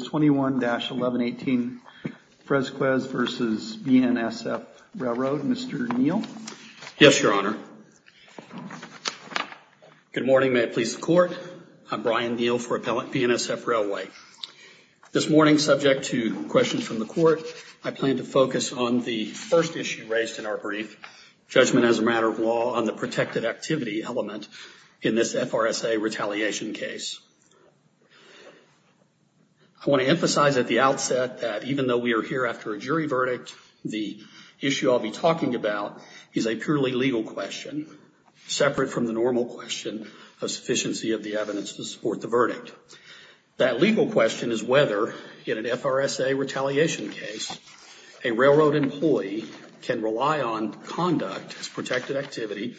21-1118 Fresquez v. BNSF Railroad. Mr. Neal. Yes, Your Honor. Good morning. May it please the court. I'm Brian Neal for Appellant BNSF Railway. This morning, subject to questions from the court, I plan to focus on the first issue raised in our brief, judgment as a matter of law on the protected activity element in this FRSA retaliation case. I want to emphasize at the outset that even though we are here after a jury verdict, the issue I'll be talking about is a purely legal question, separate from the normal question of sufficiency of the evidence to support the verdict. That legal question is whether, in an FRSA retaliation case, a railroad employee can rely on conduct as protected activity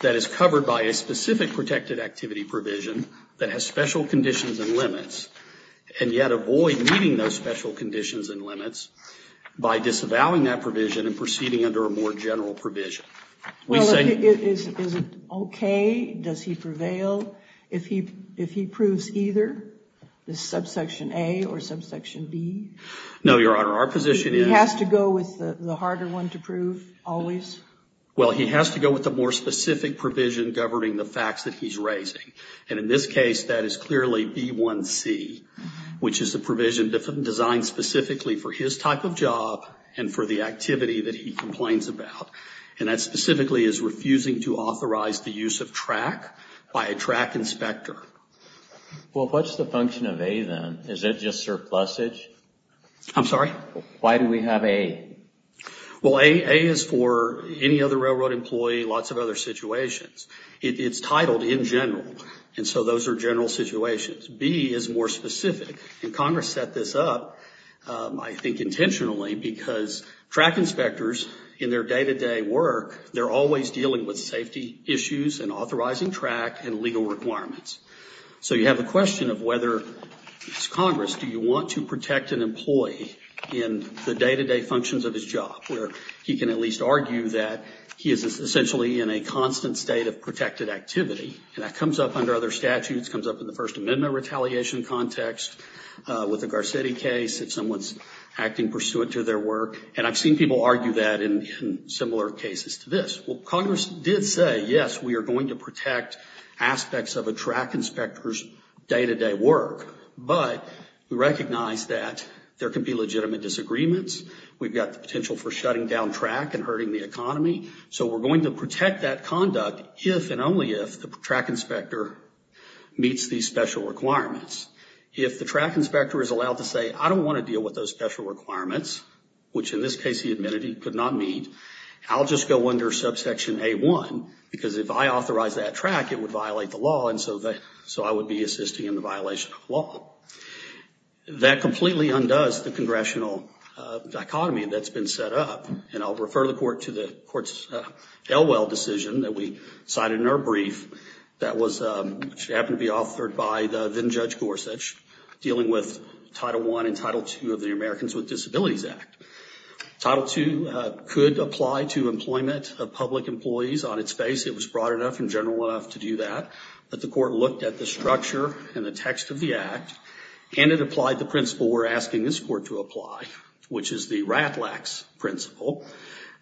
that is covered by a specific protected activity provision that has special conditions and limits, and yet avoid meeting those special conditions and limits by disavowing that provision and proceeding under a more general provision. Is it okay? Does he prevail? If he proves either, this subsection A or subsection B? No, Your Honor. Our position is... He has to go with the harder one to prove, always? Well, he has to go with the more specific provision governing the facts that he's raising. And in this case, that is clearly B1C, which is a provision designed specifically for his type of job and for the activity that he complains about. And that specifically is refusing to authorize the use of track by a track inspector. Well, what's the function of A then? Is it just surplusage? I'm sorry? Why do we have A? Well, A is for any other railroad employee, lots of other situations. It's titled in general. And so those are general situations. B is more specific. And Congress set this up, I think intentionally, because track inspectors in their day-to-day work, they're always dealing with safety issues and authorizing track and legal requirements. So you have the question of whether, as Congress, do you want to protect an employee in the day-to-day functions of his job, where he can at least argue that he is essentially in a constant state of protected activity. And that comes up under other statutes, comes up in the First Amendment retaliation context, with the Garcetti case, if someone's acting pursuant to their work. And I've seen people argue that in similar cases to this. Well, Congress did say, yes, we are going to protect aspects of a track inspector's day-to-day work. But we recognize that there can be legitimate disagreements. We've got the potential for shutting down track and hurting the economy. So we're going to protect that conduct if and only if the track inspector meets these special requirements. If the track inspector is allowed to say, I don't want to deal with those special requirements, which in this case he admitted he could not meet, I'll just go under subsection A-1, because if I authorize that track, it would violate the law. And so I would be assisting in the violation of the law. That completely undoes the congressional dichotomy that's been set up. And I'll refer the court to the court's Elwell decision that we cited in our brief that happened to be authored by the then Judge Gorsuch, dealing with Title I and Title II of the Americans with Disabilities Act. Title II could apply to employment of public employees on its face. It was broad enough and general enough to do that. But the court looked at the structure and the text of the act and it applied the principle we're asking this court to apply, which is the RATLAX principle,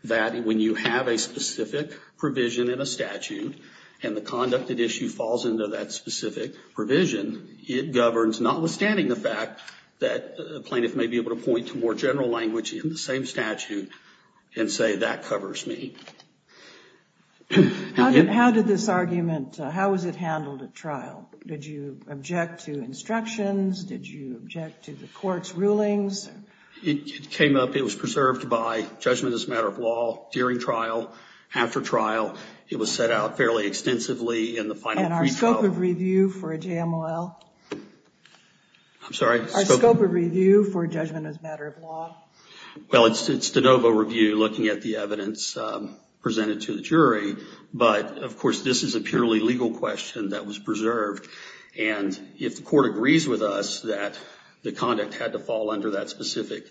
that when you have a specific provision in a statute and the conducted issue falls into that specific provision, it governs notwithstanding the fact that a plaintiff may be able to point to more general language in the same statute and say, that covers me. How did this argument, how was it handled at trial? Did you object to instructions? Did you object to the court's rulings? It came up, it was preserved by judgment as a matter of law during trial. After trial, it was set out fairly extensively in the final pre-trial. And our scope of review for a JMLL? I'm sorry? Our scope of review for judgment as a matter of law? Well, it's de novo review, looking at the evidence presented to the jury. But, of course, this is a purely legal question that was preserved. And if the court agrees with us that the conduct had to fall under that specific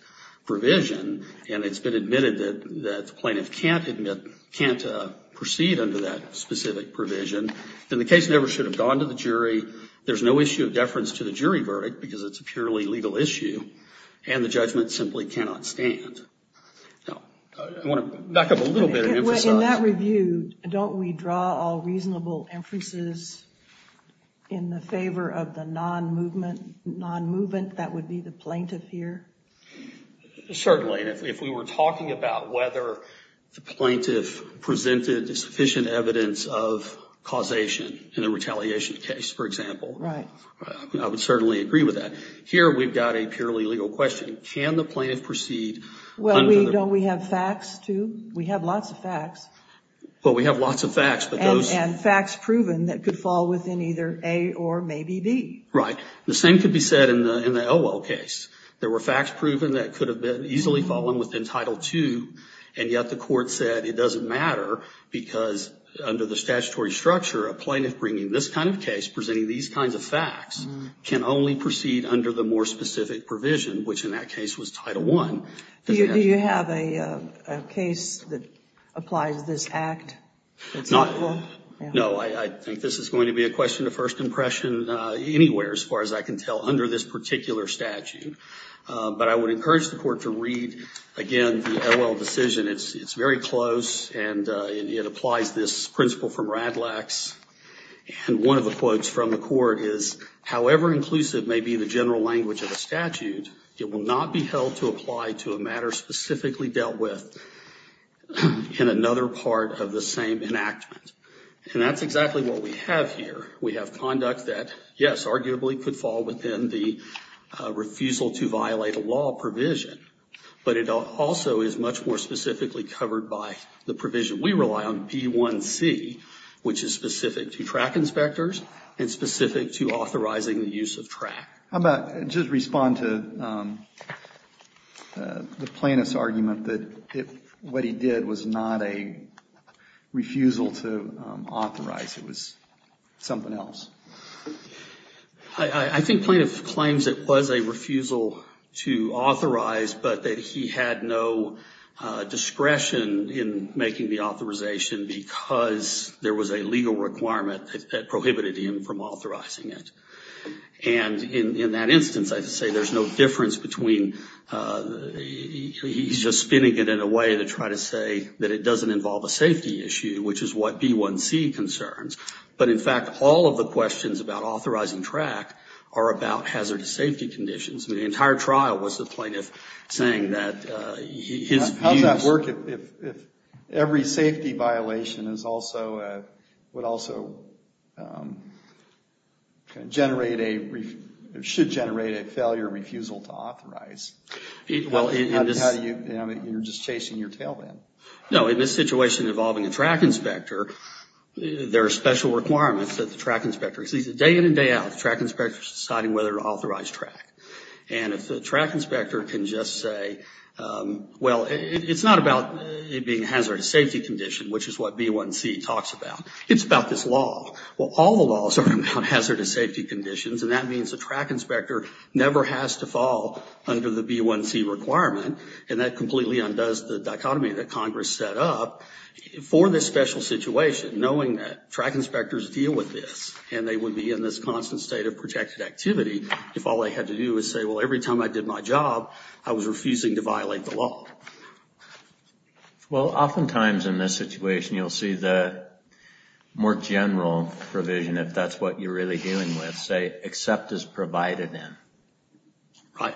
provision and it's been admitted that the plaintiff can't admit, can't proceed under that specific provision, then the case never should have gone to the jury. There's no issue of deference to the jury verdict because it's a purely legal issue. And the judgment simply cannot stand. I want to back up a little bit and emphasize. In that review, don't we draw all reasonable inferences in the favor of the non-movement, non-movement that would be the plaintiff here? Certainly. And if we were talking about whether the plaintiff presented sufficient evidence of causation in a retaliation case, for example, I would certainly agree with that. Here, we've got a purely legal question. Can the plaintiff proceed? Well, don't we have facts, too? We have lots of facts. Well, we have lots of facts. And facts proven that could fall within either A or maybe B. Right. The same could be said in the Elwell case. There were facts proven that could have been easily fallen within Title II. And yet the court said it doesn't matter because under the statutory structure, a plaintiff bringing this kind of case, presenting these kinds of facts, can only proceed under the more specific provision, which in that case was Title I. Do you have a case that applies this act? It's not. No, I think this is going to be a question of first impression anywhere, as far as I can tell, under this particular statute. But I would encourage the court to read, again, the Elwell decision. It's very close, and it applies this principle from Radlax. And one of the quotes from the court is, however inclusive may be the general language of the statute, it will not be held to apply to a matter specifically dealt with in another part of the same enactment. And that's exactly what we have here. We have conduct that, yes, arguably could fall within the refusal to violate a law provision, but it also is much more specifically covered by the provision we rely on, B1C, which is specific to track inspectors and specific to authorizing the use of track. How about just respond to the plaintiff's argument that what he did was not a refusal to authorize. It was something else. I think plaintiff claims it was a refusal to authorize, but that he had no discretion in making the authorization because there was a legal requirement that prohibited him from authorizing it. And in that instance, I'd say there's no difference between he's just spinning it in a way to try to say that it doesn't involve a safety issue, which is what B1C concerns. But in fact, all of the questions about authorizing track are about hazardous safety conditions. The entire trial was the plaintiff saying that his views... How would that work if every safety violation is also, would also generate a, should generate a failure refusal to authorize? How do you, you're just chasing your tail then. No, in this situation involving a track inspector, there are special requirements that the track inspector, at least day in and day out, the track inspector's deciding whether to authorize track. And if the track inspector can just say, well, it's not about it being a hazardous safety condition, which is what B1C talks about. It's about this law. Well, all the laws are about hazardous safety conditions. And that means the track inspector never has to fall under the B1C requirement. And that completely undoes the dichotomy that Congress set up for this special situation, knowing that track inspectors deal with this and they would be in this constant state of protected activity if all they had to do is say, well, every time I did my job, I was refusing to violate the law. Well, oftentimes in this situation, you'll see the more general provision, if that's what you're really dealing with, say, except as provided in. Right.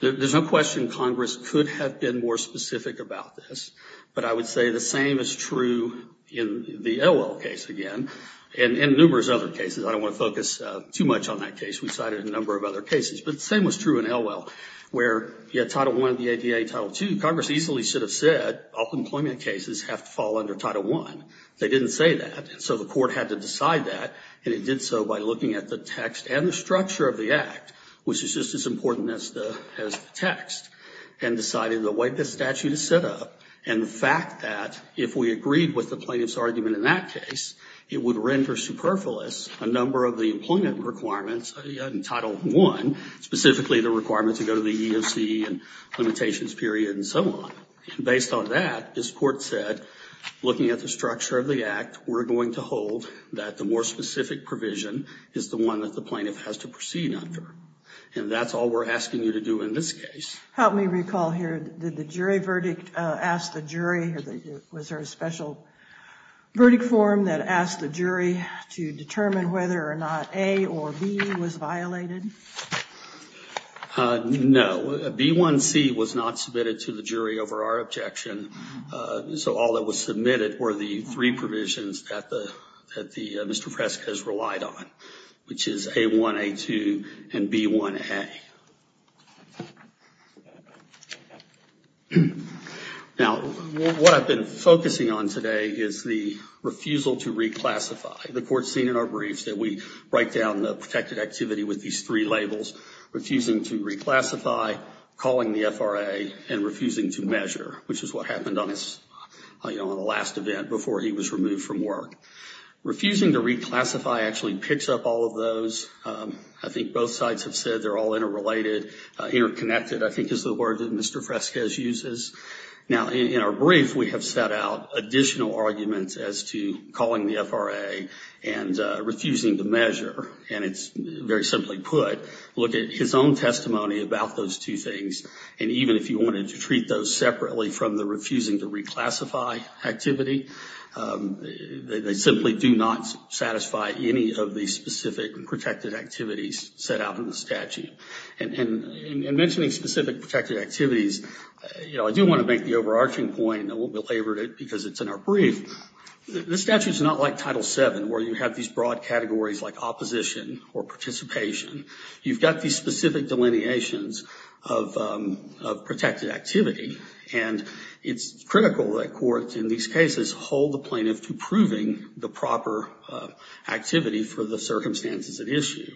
There's no question Congress could have been more specific about this. But I would say the same is true in the Elwell case again, and in numerous other cases. I don't want to focus too much on that case. We cited a number of other cases. But the same was true in Elwell, where you had Title I of the ADA, Title II. Congress easily should have said, all employment cases have to fall under Title I. They didn't say that. And so the court had to decide that. And it did so by looking at the text and the structure of the act, which is just as important as the text, and decided the way the statute is set up and the fact that if we agreed with the plaintiff's argument in that case, it would render superfluous a number of the employment requirements in Title I, specifically the requirements to go to the EEOC and limitations period and so on. Based on that, this court said, looking at the structure of the act, we're going to hold that the more specific provision is the one that the plaintiff has to proceed under. And that's all we're asking you to do in this case. Help me recall here, did the jury verdict ask the jury, or was there a special verdict form that asked the jury to determine whether or not A or B was violated? No, B1C was not submitted to the jury over our objection. So all that was submitted were the three provisions that Mr. Prescott has relied on, which is A1, A2, and B1A. Now, what I've been focusing on today is the refusal to reclassify. The court's seen in our briefs that we write down the protected activity with these three labels, refusing to reclassify, calling the FRA, and refusing to measure, which is what happened on the last event before he was removed from work. Refusing to reclassify actually picks up all of those. I think both sides have said they're all interrelated, interconnected. I think is the word that Mr. Fresquez uses. Now, in our brief, we have set out additional arguments as to calling the FRA and refusing to measure. And it's very simply put, look at his own testimony about those two things. And even if you wanted to treat those separately from the refusing to reclassify activity, they simply do not satisfy any of the specific protected activities set out in the statute. And in mentioning specific protected activities, you know, I do want to make the overarching point and I won't belabor it because it's in our brief. The statute is not like Title VII, where you have these broad categories like opposition or participation. You've got these specific delineations of protected activity. And it's critical that courts in these cases hold the plaintiff to proving the proper activity for the circumstances at issue.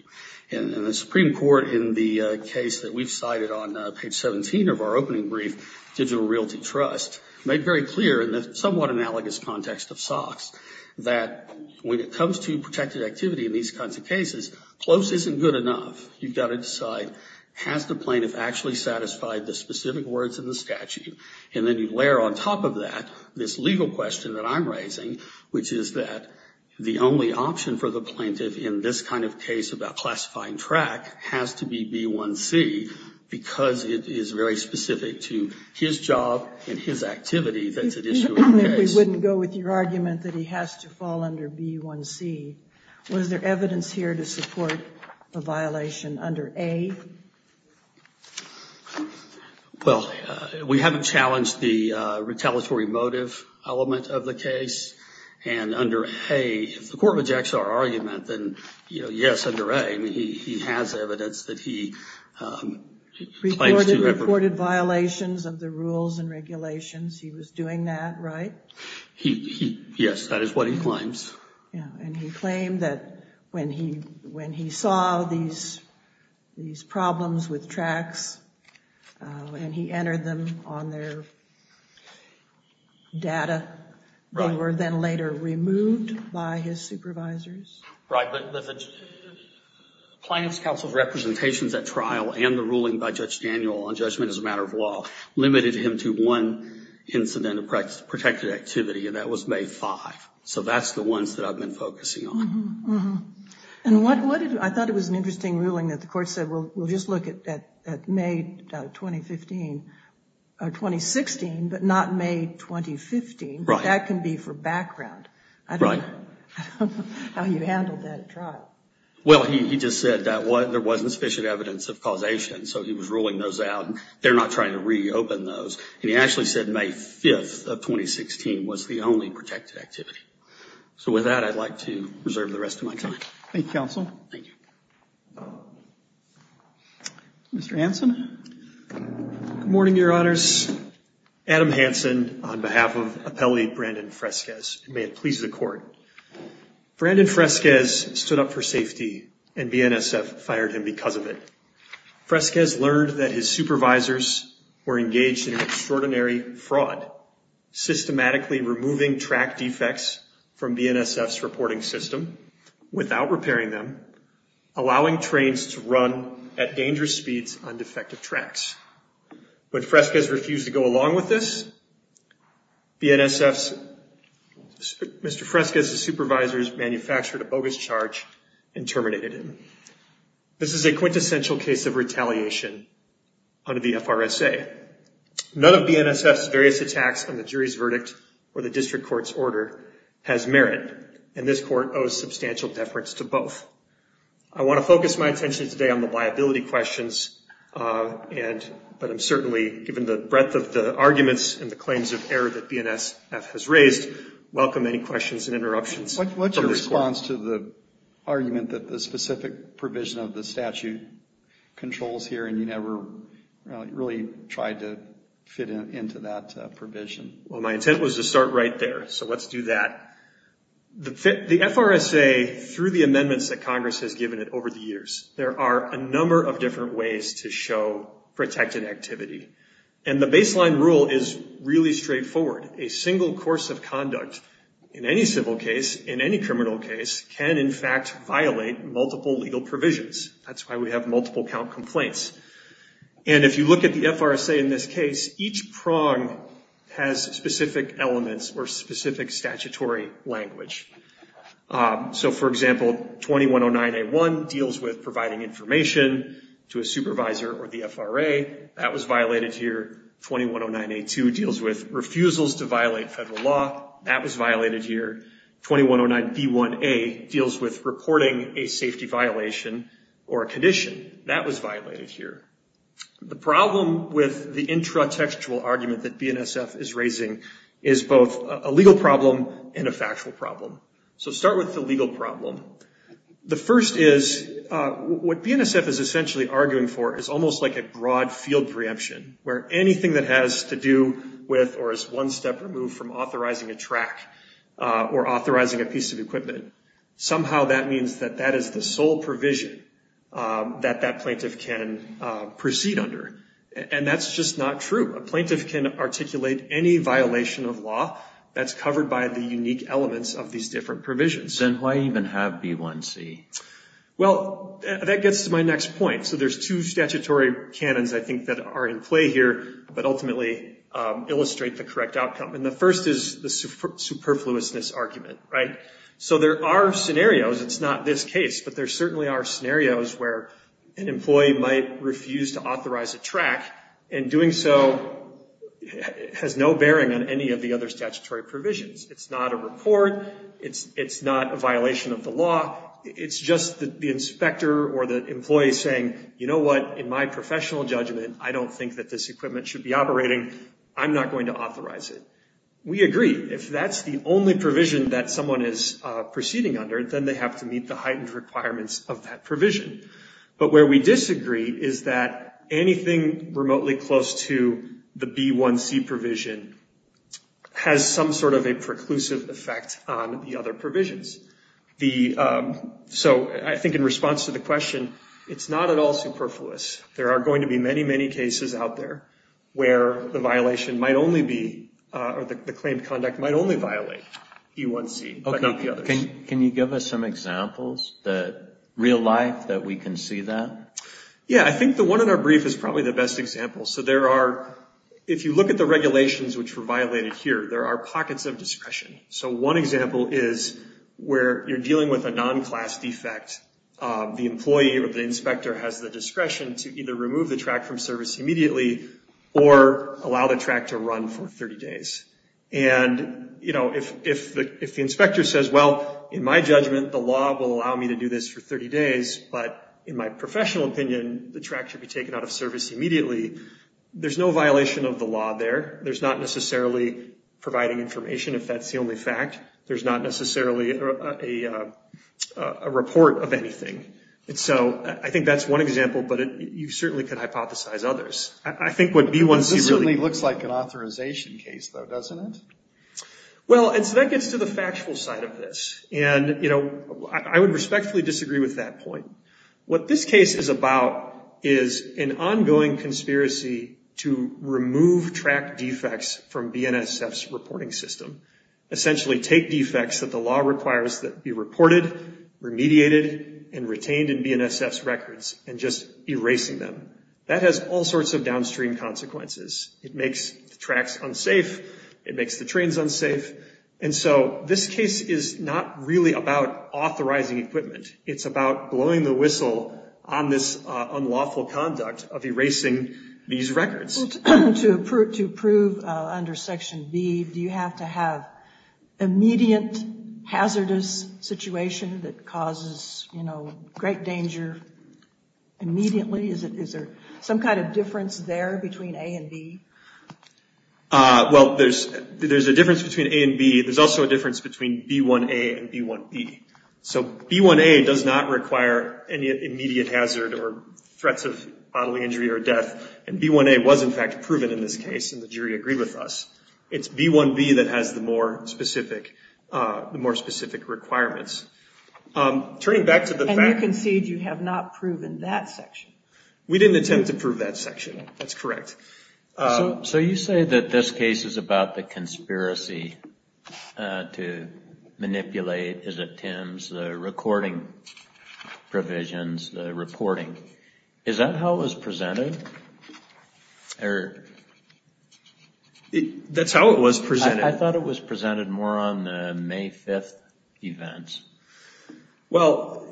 And the Supreme Court in the case that we've cited on page 17 of our opening brief, Digital Realty Trust, made very clear in the somewhat analogous context of SOX that when it comes to protected activity in these kinds of cases, close isn't good enough. You've got to decide, has the plaintiff actually satisfied the specific words in the statute? And then you layer on top of that, this legal question that I'm raising, which is that the only option for the plaintiff in this kind of case about classifying track has to be B1C because it is very specific to his job and his activity that's at issue in the case. We wouldn't go with your argument that he has to fall under B1C. Was there evidence here to support the violation under A? Well, we haven't challenged the retaliatory motive element of the case. And under A, if the court rejects our argument, then, you know, yes, under A, he has evidence that he claims to have... Reported violations of the rules and regulations. He was doing that, right? He, yes, that is what he claims. Yeah, and he claimed that when he saw these problems with tracks and he entered them on their data, they were then later removed by his supervisors? Right, but the Plaintiff's Council's representations at trial and the ruling by Judge Daniel on judgment as a matter of law limited him to one incident of protected activity, and that was May 5. So that's the ones that I've been focusing on. And what did... I thought it was an interesting ruling that the court said, well, we'll just look at May 2015 or 2016, but not May 2015. Right. That can be for background. Right. I don't know how you handled that at trial. Well, he just said that there wasn't sufficient evidence of causation, so he was ruling those out. They're not trying to reopen those. And he actually said May 5th of 2016 was the only protected activity. So with that, I'd like to reserve the rest of my time. Thank you, Counsel. Thank you. Mr. Hanson. Good morning, Your Honors. Adam Hanson on behalf of Appellate Brandon Fresquez. May it please the court. Brandon Fresquez stood up for safety and BNSF fired him because of it. Fresquez learned that his supervisors were engaged in an extraordinary fraud, systematically removing track defects from BNSF's reporting system without repairing them, allowing trains to run at dangerous speeds on defective tracks. But Fresquez refused to go along with this. BNSF's... Mr. Fresquez's supervisors manufactured a bogus charge and terminated him. This is a quintessential case of retaliation under the FRSA. None of BNSF's various attacks on the jury's verdict or the district court's order has merit, and this court owes substantial deference to both. I want to focus my attention today on the liability questions, but I'm certainly, given the breadth of the arguments and the claims of error that BNSF has raised, welcome any questions and interruptions. What's your response to the argument that the specific provision of the statute controls here and you never really tried to fit into that provision? Well, my intent was to start right there, so let's do that. The FRSA, through the amendments that Congress has given it over the years, there are a number of different ways to show protected activity. And the baseline rule is really straightforward. A single course of conduct in any civil case, in any criminal case, can in fact violate multiple legal provisions. That's why we have multiple count complaints. And if you look at the FRSA in this case, each prong has specific elements or specific statutory language. So, for example, 2109A1 deals with providing information to a supervisor or the FRA. That was violated here. 2109A2 deals with refusals to violate federal law. That was violated here. 2109B1A deals with reporting a safety violation or a condition. That was violated here. The problem with the intratextual argument that BNSF is raising is both a legal problem and a factual problem. So start with the legal problem. The first is, what BNSF is essentially arguing for is almost like a broad field preemption, where anything that has to do with or is one step removed from authorizing a track or authorizing a piece of equipment, somehow that means that that is the sole provision that that plaintiff can proceed under. And that's just not true. A plaintiff can articulate any violation of law that's covered by the unique elements of these different provisions. And why even have B1C? Well, that gets to my next point. So there's two statutory canons, I think, that are in play here, but ultimately illustrate the correct outcome. And the first is the superfluousness argument, right? So there are scenarios, it's not this case, but there certainly are scenarios where an employee might refuse to authorize a track. And doing so has no bearing on any of the other statutory provisions. It's not a report. It's not a violation of the law. It's just the inspector or the employee saying, you know what, in my professional judgment, I don't think that this equipment should be operating. I'm not going to authorize it. We agree. If that's the only provision that someone is proceeding under, then they have to meet the heightened requirements of that provision. But where we disagree is that anything remotely close to the B1C provision has some sort of a preclusive effect on the other provisions. So I think in response to the question, it's not at all superfluous. There are going to be many, many cases out there where the violation might only be, or the claimed conduct might only violate B1C, but not the others. Can you give us some examples that, real life, that we can see that? Yeah, I think the one in our brief is probably the best example. So there are, if you look at the regulations which were violated here, there are pockets of discretion. So one example is where you're dealing with a non-class defect. The employee or the inspector has the discretion to either remove the track from service immediately or allow the track to run for 30 days. And, you know, if the inspector says, well, in my judgment, the law will allow me to do this for 30 days, but in my professional opinion, the track should be taken out of service immediately, there's no violation of the law there. There's not necessarily providing information, if that's the only fact. There's not necessarily a report of anything. And so I think that's one example, but you certainly could hypothesize others. I think what B1C really... Well, and so that gets to the factual side of this. And, you know, I would respectfully disagree with that point. What this case is about is an ongoing conspiracy to remove track defects from BNSF's reporting system. Essentially take defects that the law requires that be reported, remediated, and retained in BNSF's records and just erasing them. That has all sorts of downstream consequences. It makes the tracks unsafe. It makes the trains unsafe. And so this case is not really about authorizing equipment. It's about blowing the whistle on this unlawful conduct of erasing these records. To prove under Section B, do you have to have immediate hazardous situation that causes, you know, great danger immediately? Is there some kind of difference there between A and B? Well, there's a difference between A and B. There's also a difference between B1A and B1B. So B1A does not require any immediate hazard or threats of bodily injury or death. And B1A was, in fact, proven in this case, and the jury agreed with us. It's B1B that has the more specific requirements. Turning back to the fact... And you concede you have not proven that section. We didn't attempt to prove that section. That's correct. So you say that this case is about the conspiracy to manipulate, is it Tim's, the recording provisions, the reporting. Is that how it was presented? Or... That's how it was presented. I thought it was presented more on the May 5th events. Well,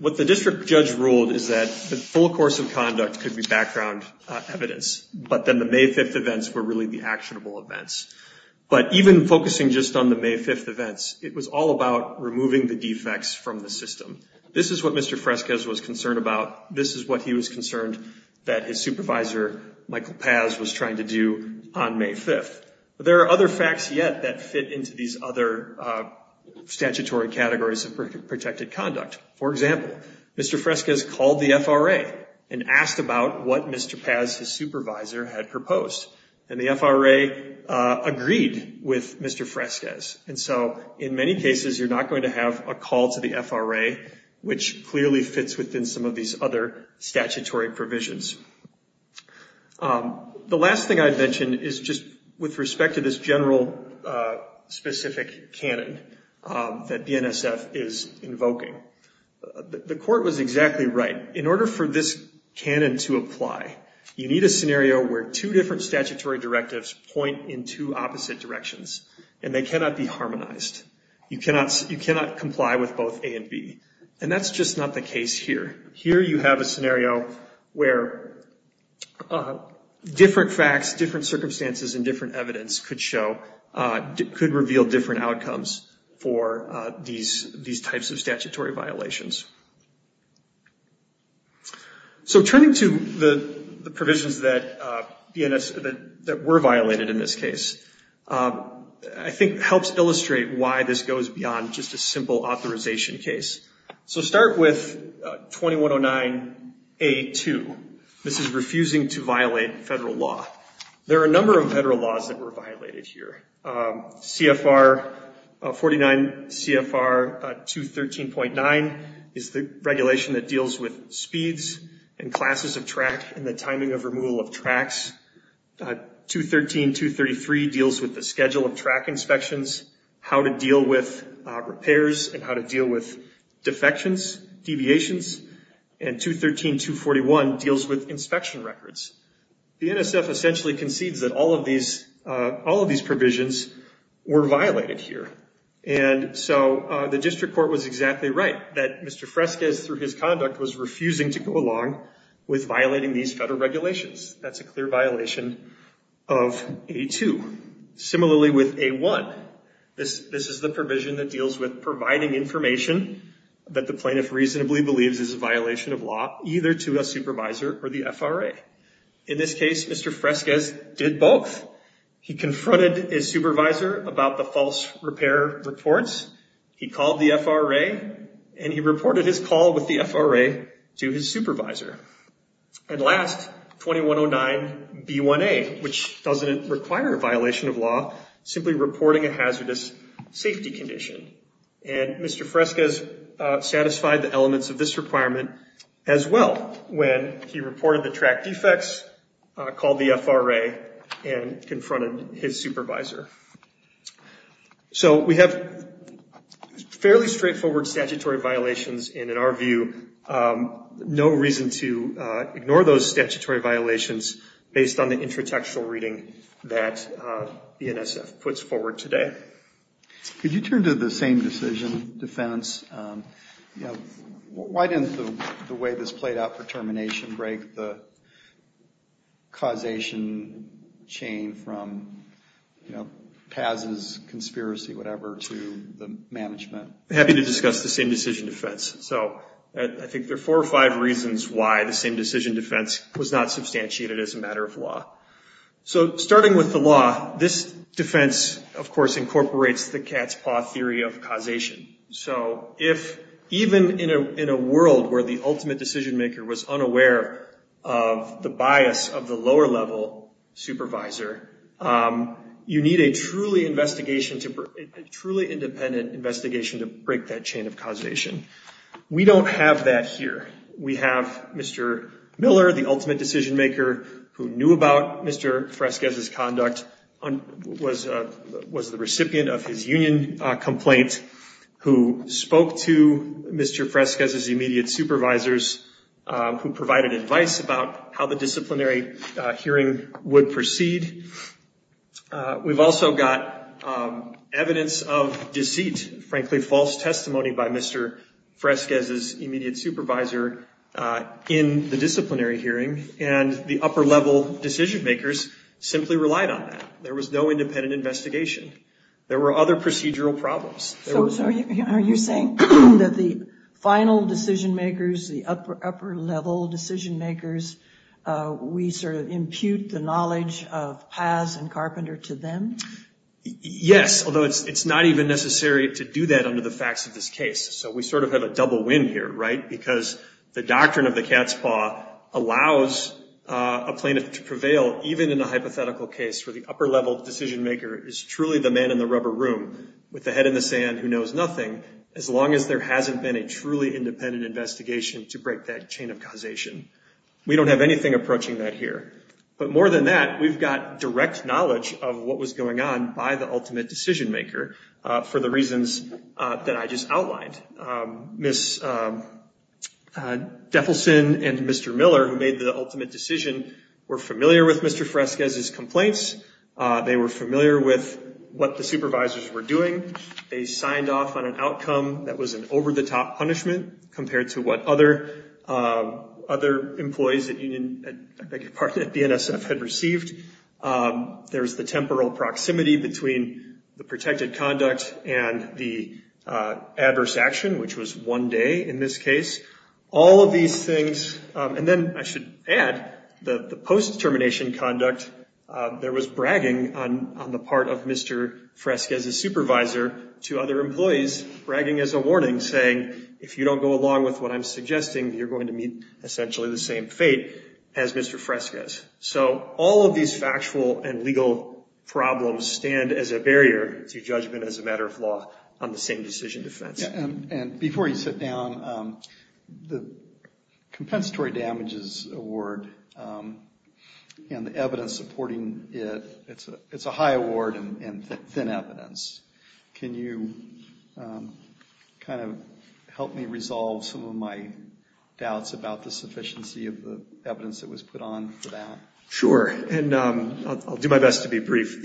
what the district judge ruled is that the full course of conduct could be background evidence. But then the May 5th events were really the actionable events. But even focusing just on the May 5th events, it was all about removing the defects from the system. This is what Mr. Fresquez was concerned about. This is what he was concerned that his supervisor, Michael Paz, was trying to do on May 5th. There are other facts yet that fit into these other statutory categories of protected conduct. For example, Mr. Fresquez called the FRA and asked about what Mr. Paz, his supervisor, had proposed. And the FRA agreed with Mr. Fresquez. And so in many cases, you're not going to have a call to the FRA, which clearly fits within some of these other statutory provisions. The last thing I'd mention is just with respect to this general, specific canon that the NSF is invoking. The court was exactly right. In order for this canon to apply, you need a scenario where two different statutory directives point in two opposite directions, and they cannot be harmonized. You cannot comply with both A and B. And that's just not the case here. Here you have a scenario where the NSF is going to have a scenario where different facts, different circumstances, and different evidence could show, could reveal different outcomes for these types of statutory violations. So turning to the provisions that were violated in this case, I think helps illustrate why this goes beyond just a simple authorization case. So start with 2109A2. This is refusing to violate federal law. There are a number of federal laws that were violated here. CFR 49, CFR 213.9 is the regulation that deals with speeds and classes of track and the timing of removal of tracks. 213.233 deals with the schedule of track inspections, how to deal with repairs, and how to deal with defections, deviations, and 213.241 deals with inspection records. The NSF essentially concedes that all of these provisions were violated here. And so the district court was exactly right, that Mr. Fresquez, through his conduct, was refusing to go along with violating these federal regulations. That's a clear violation of A2. Similarly with A1, this is the provision that deals with providing information that the plaintiff reasonably believes is a violation of law, either to a supervisor or the FRA. In this case, Mr. Fresquez did both. He confronted his supervisor about the false repair reports. He called the FRA, and he reported his call with the FRA to his supervisor. And last, 2109B1A, which doesn't require a violation of law, simply reporting a hazardous safety condition. And Mr. Fresquez satisfied the elements of this requirement as well, when he reported the track defects, called the FRA, and confronted his supervisor. So we have fairly straightforward statutory violations, and in our view, no reason to ignore those statutory violations based on the intratextual reading that BNSF puts forward today. Could you turn to the same decision, defense? Why didn't the way this played out for termination break the causation chain from Paz's conspiracy, whatever, to the management? Happy to discuss the same decision defense. So I think there are four or five reasons why the same decision defense was not substantiated as a matter of law. So starting with the law, this defense, of course, incorporates the cat's paw theory of causation. So if even in a world where the ultimate decision maker was unaware of the bias of the lower level supervisor, you need a truly independent investigation to break that chain of causation. We don't have that here. We have Mr. Miller, the ultimate decision maker, who knew about Mr. Fresquez's conduct, was the recipient of his union complaint, who spoke to Mr. Fresquez's immediate supervisors, who provided advice about how the disciplinary hearing would proceed. We've also got evidence of deceit, frankly, false testimony by Mr. Fresquez's immediate supervisor in the disciplinary hearing. And the upper level decision makers simply relied on that. There was no independent investigation. There were other procedural problems. Are you saying that the final decision makers, the upper level decision makers, we sort of impute the knowledge of Paz and Carpenter to them? Yes, although it's not even necessary to do that under the facts of this case. So we sort of have a double win here, right? Because the doctrine of the cat's paw allows a plaintiff to prevail even in a hypothetical case where the upper level decision maker is truly the man in the rubber room with the head in the sand who knows nothing, as long as there hasn't been a truly independent investigation to break that chain of causation. We don't have anything approaching that here. But more than that, we've got direct knowledge of what was going on by the ultimate decision maker for the reasons that I just outlined. Ms. Defelson and Mr. Miller, who made the ultimate decision, were familiar with Mr. Fresquez's complaints. They were familiar with what the supervisors were doing. They signed off on an outcome that was an over-the-top punishment compared to what other employees at BNSF had received. There's the temporal proximity between the protected conduct and the adverse action, which was one day in this case. All of these things, and then I should add, the post-termination conduct, there was bragging on the part of Mr. Fresquez's supervisor to other employees, bragging as a warning, saying, if you don't go along with what I'm suggesting, you're going to meet essentially the same fate as Mr. Fresquez. So all of these factual and legal problems stand as a barrier to judgment as a matter of law on the same decision defense. And before you sit down, the Compensatory Damages Award and the evidence supporting it, it's a high award and thin evidence. Can you help me resolve some of my doubts about the sufficiency of the evidence that you're talking about? Sure, and I'll do my best to be brief.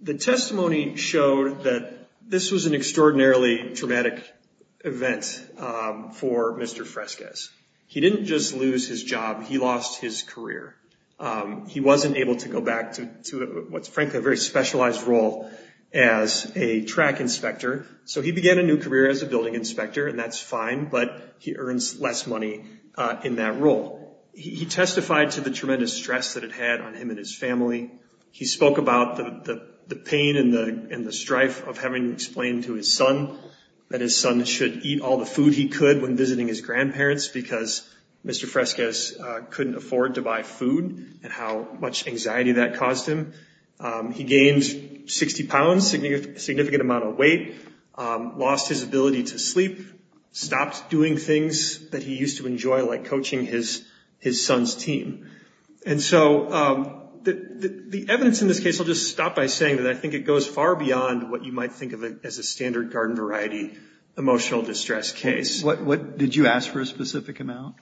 The testimony showed that this was an extraordinarily dramatic event for Mr. Fresquez. He didn't just lose his job. He lost his career. He wasn't able to go back to, frankly, a very specialized role as a track inspector. So he began a new career as a building inspector, and that's fine, but he earns less money in that role. He testified to the tremendous stress that it had on him and his family. He spoke about the pain and the strife of having explained to his son that his son should eat all the food he could when visiting his grandparents because Mr. Fresquez couldn't afford to buy food and how much anxiety that caused him. He gained 60 pounds, a significant amount of weight, lost his ability to sleep, stopped doing things that he used to enjoy, like coaching his son's team. And so the evidence in this case, I'll just stop by saying that I think it goes far beyond what you might think of as a standard garden variety emotional distress case. What did you ask for a specific amount?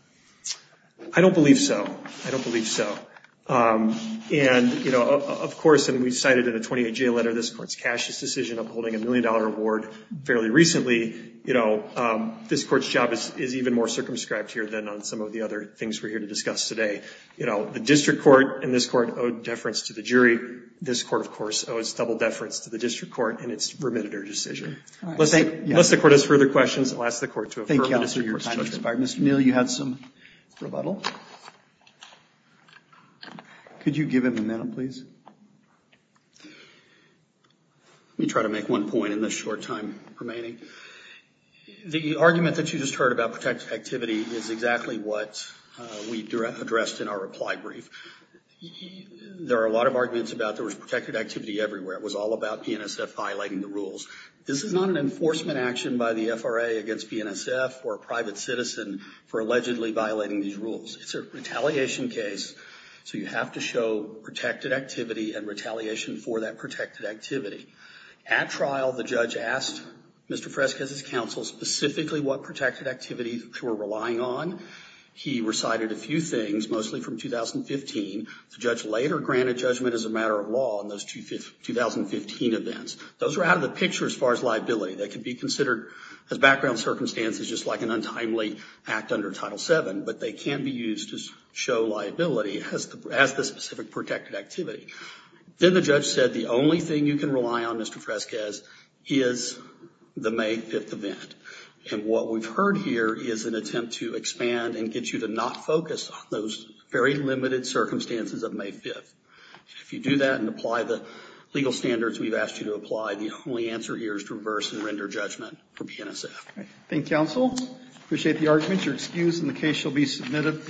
I don't believe so. I don't believe so. And of course, and we've cited in a 28-J letter this Court's Cassius decision upholding a million-dollar award fairly recently, this Court's job is even more circumscribed here than on some of the other things we're here to discuss today. The District Court and this Court owed deference to the jury. This Court, of course, owes double deference to the District Court in its remitted our decision. Unless the Court has further questions, I'll ask the Court to affirm the District Court's judgment. Mr. Neal, you had some rebuttal. Could you give him a minute, please? Let me try to make one point in the short time remaining. The argument that you just heard about protected activity is exactly what we addressed in our reply brief. There are a lot of arguments about there was protected activity everywhere. It was all about PNSF violating the rules. This is not an enforcement action by the FRA against PNSF or a private citizen for allegedly violating these rules. It's a retaliation case, so you have to show protected activity and retaliation for that protected activity. At trial, the judge asked Mr. Fresquez's counsel specifically what protected activity they were relying on. He recited a few things, mostly from 2015. The judge later granted judgment as a matter of law on those 2015 events. Those were out of the picture as far as liability. They could be considered, as background circumstances, just like an untimely act under Title VII, but they can be used to show liability as the specific protected activity. Then the judge said the only thing you can rely on, Mr. Fresquez, is the May 5th event. And what we've heard here is an attempt to expand and get you to not focus on those very limited circumstances of May 5th. If you do that and apply the legal standards we've asked you to apply, the only answer here is to reverse and render judgment for PNSF. Thank you, counsel. Appreciate the argument. You're excused, and the case shall be submitted.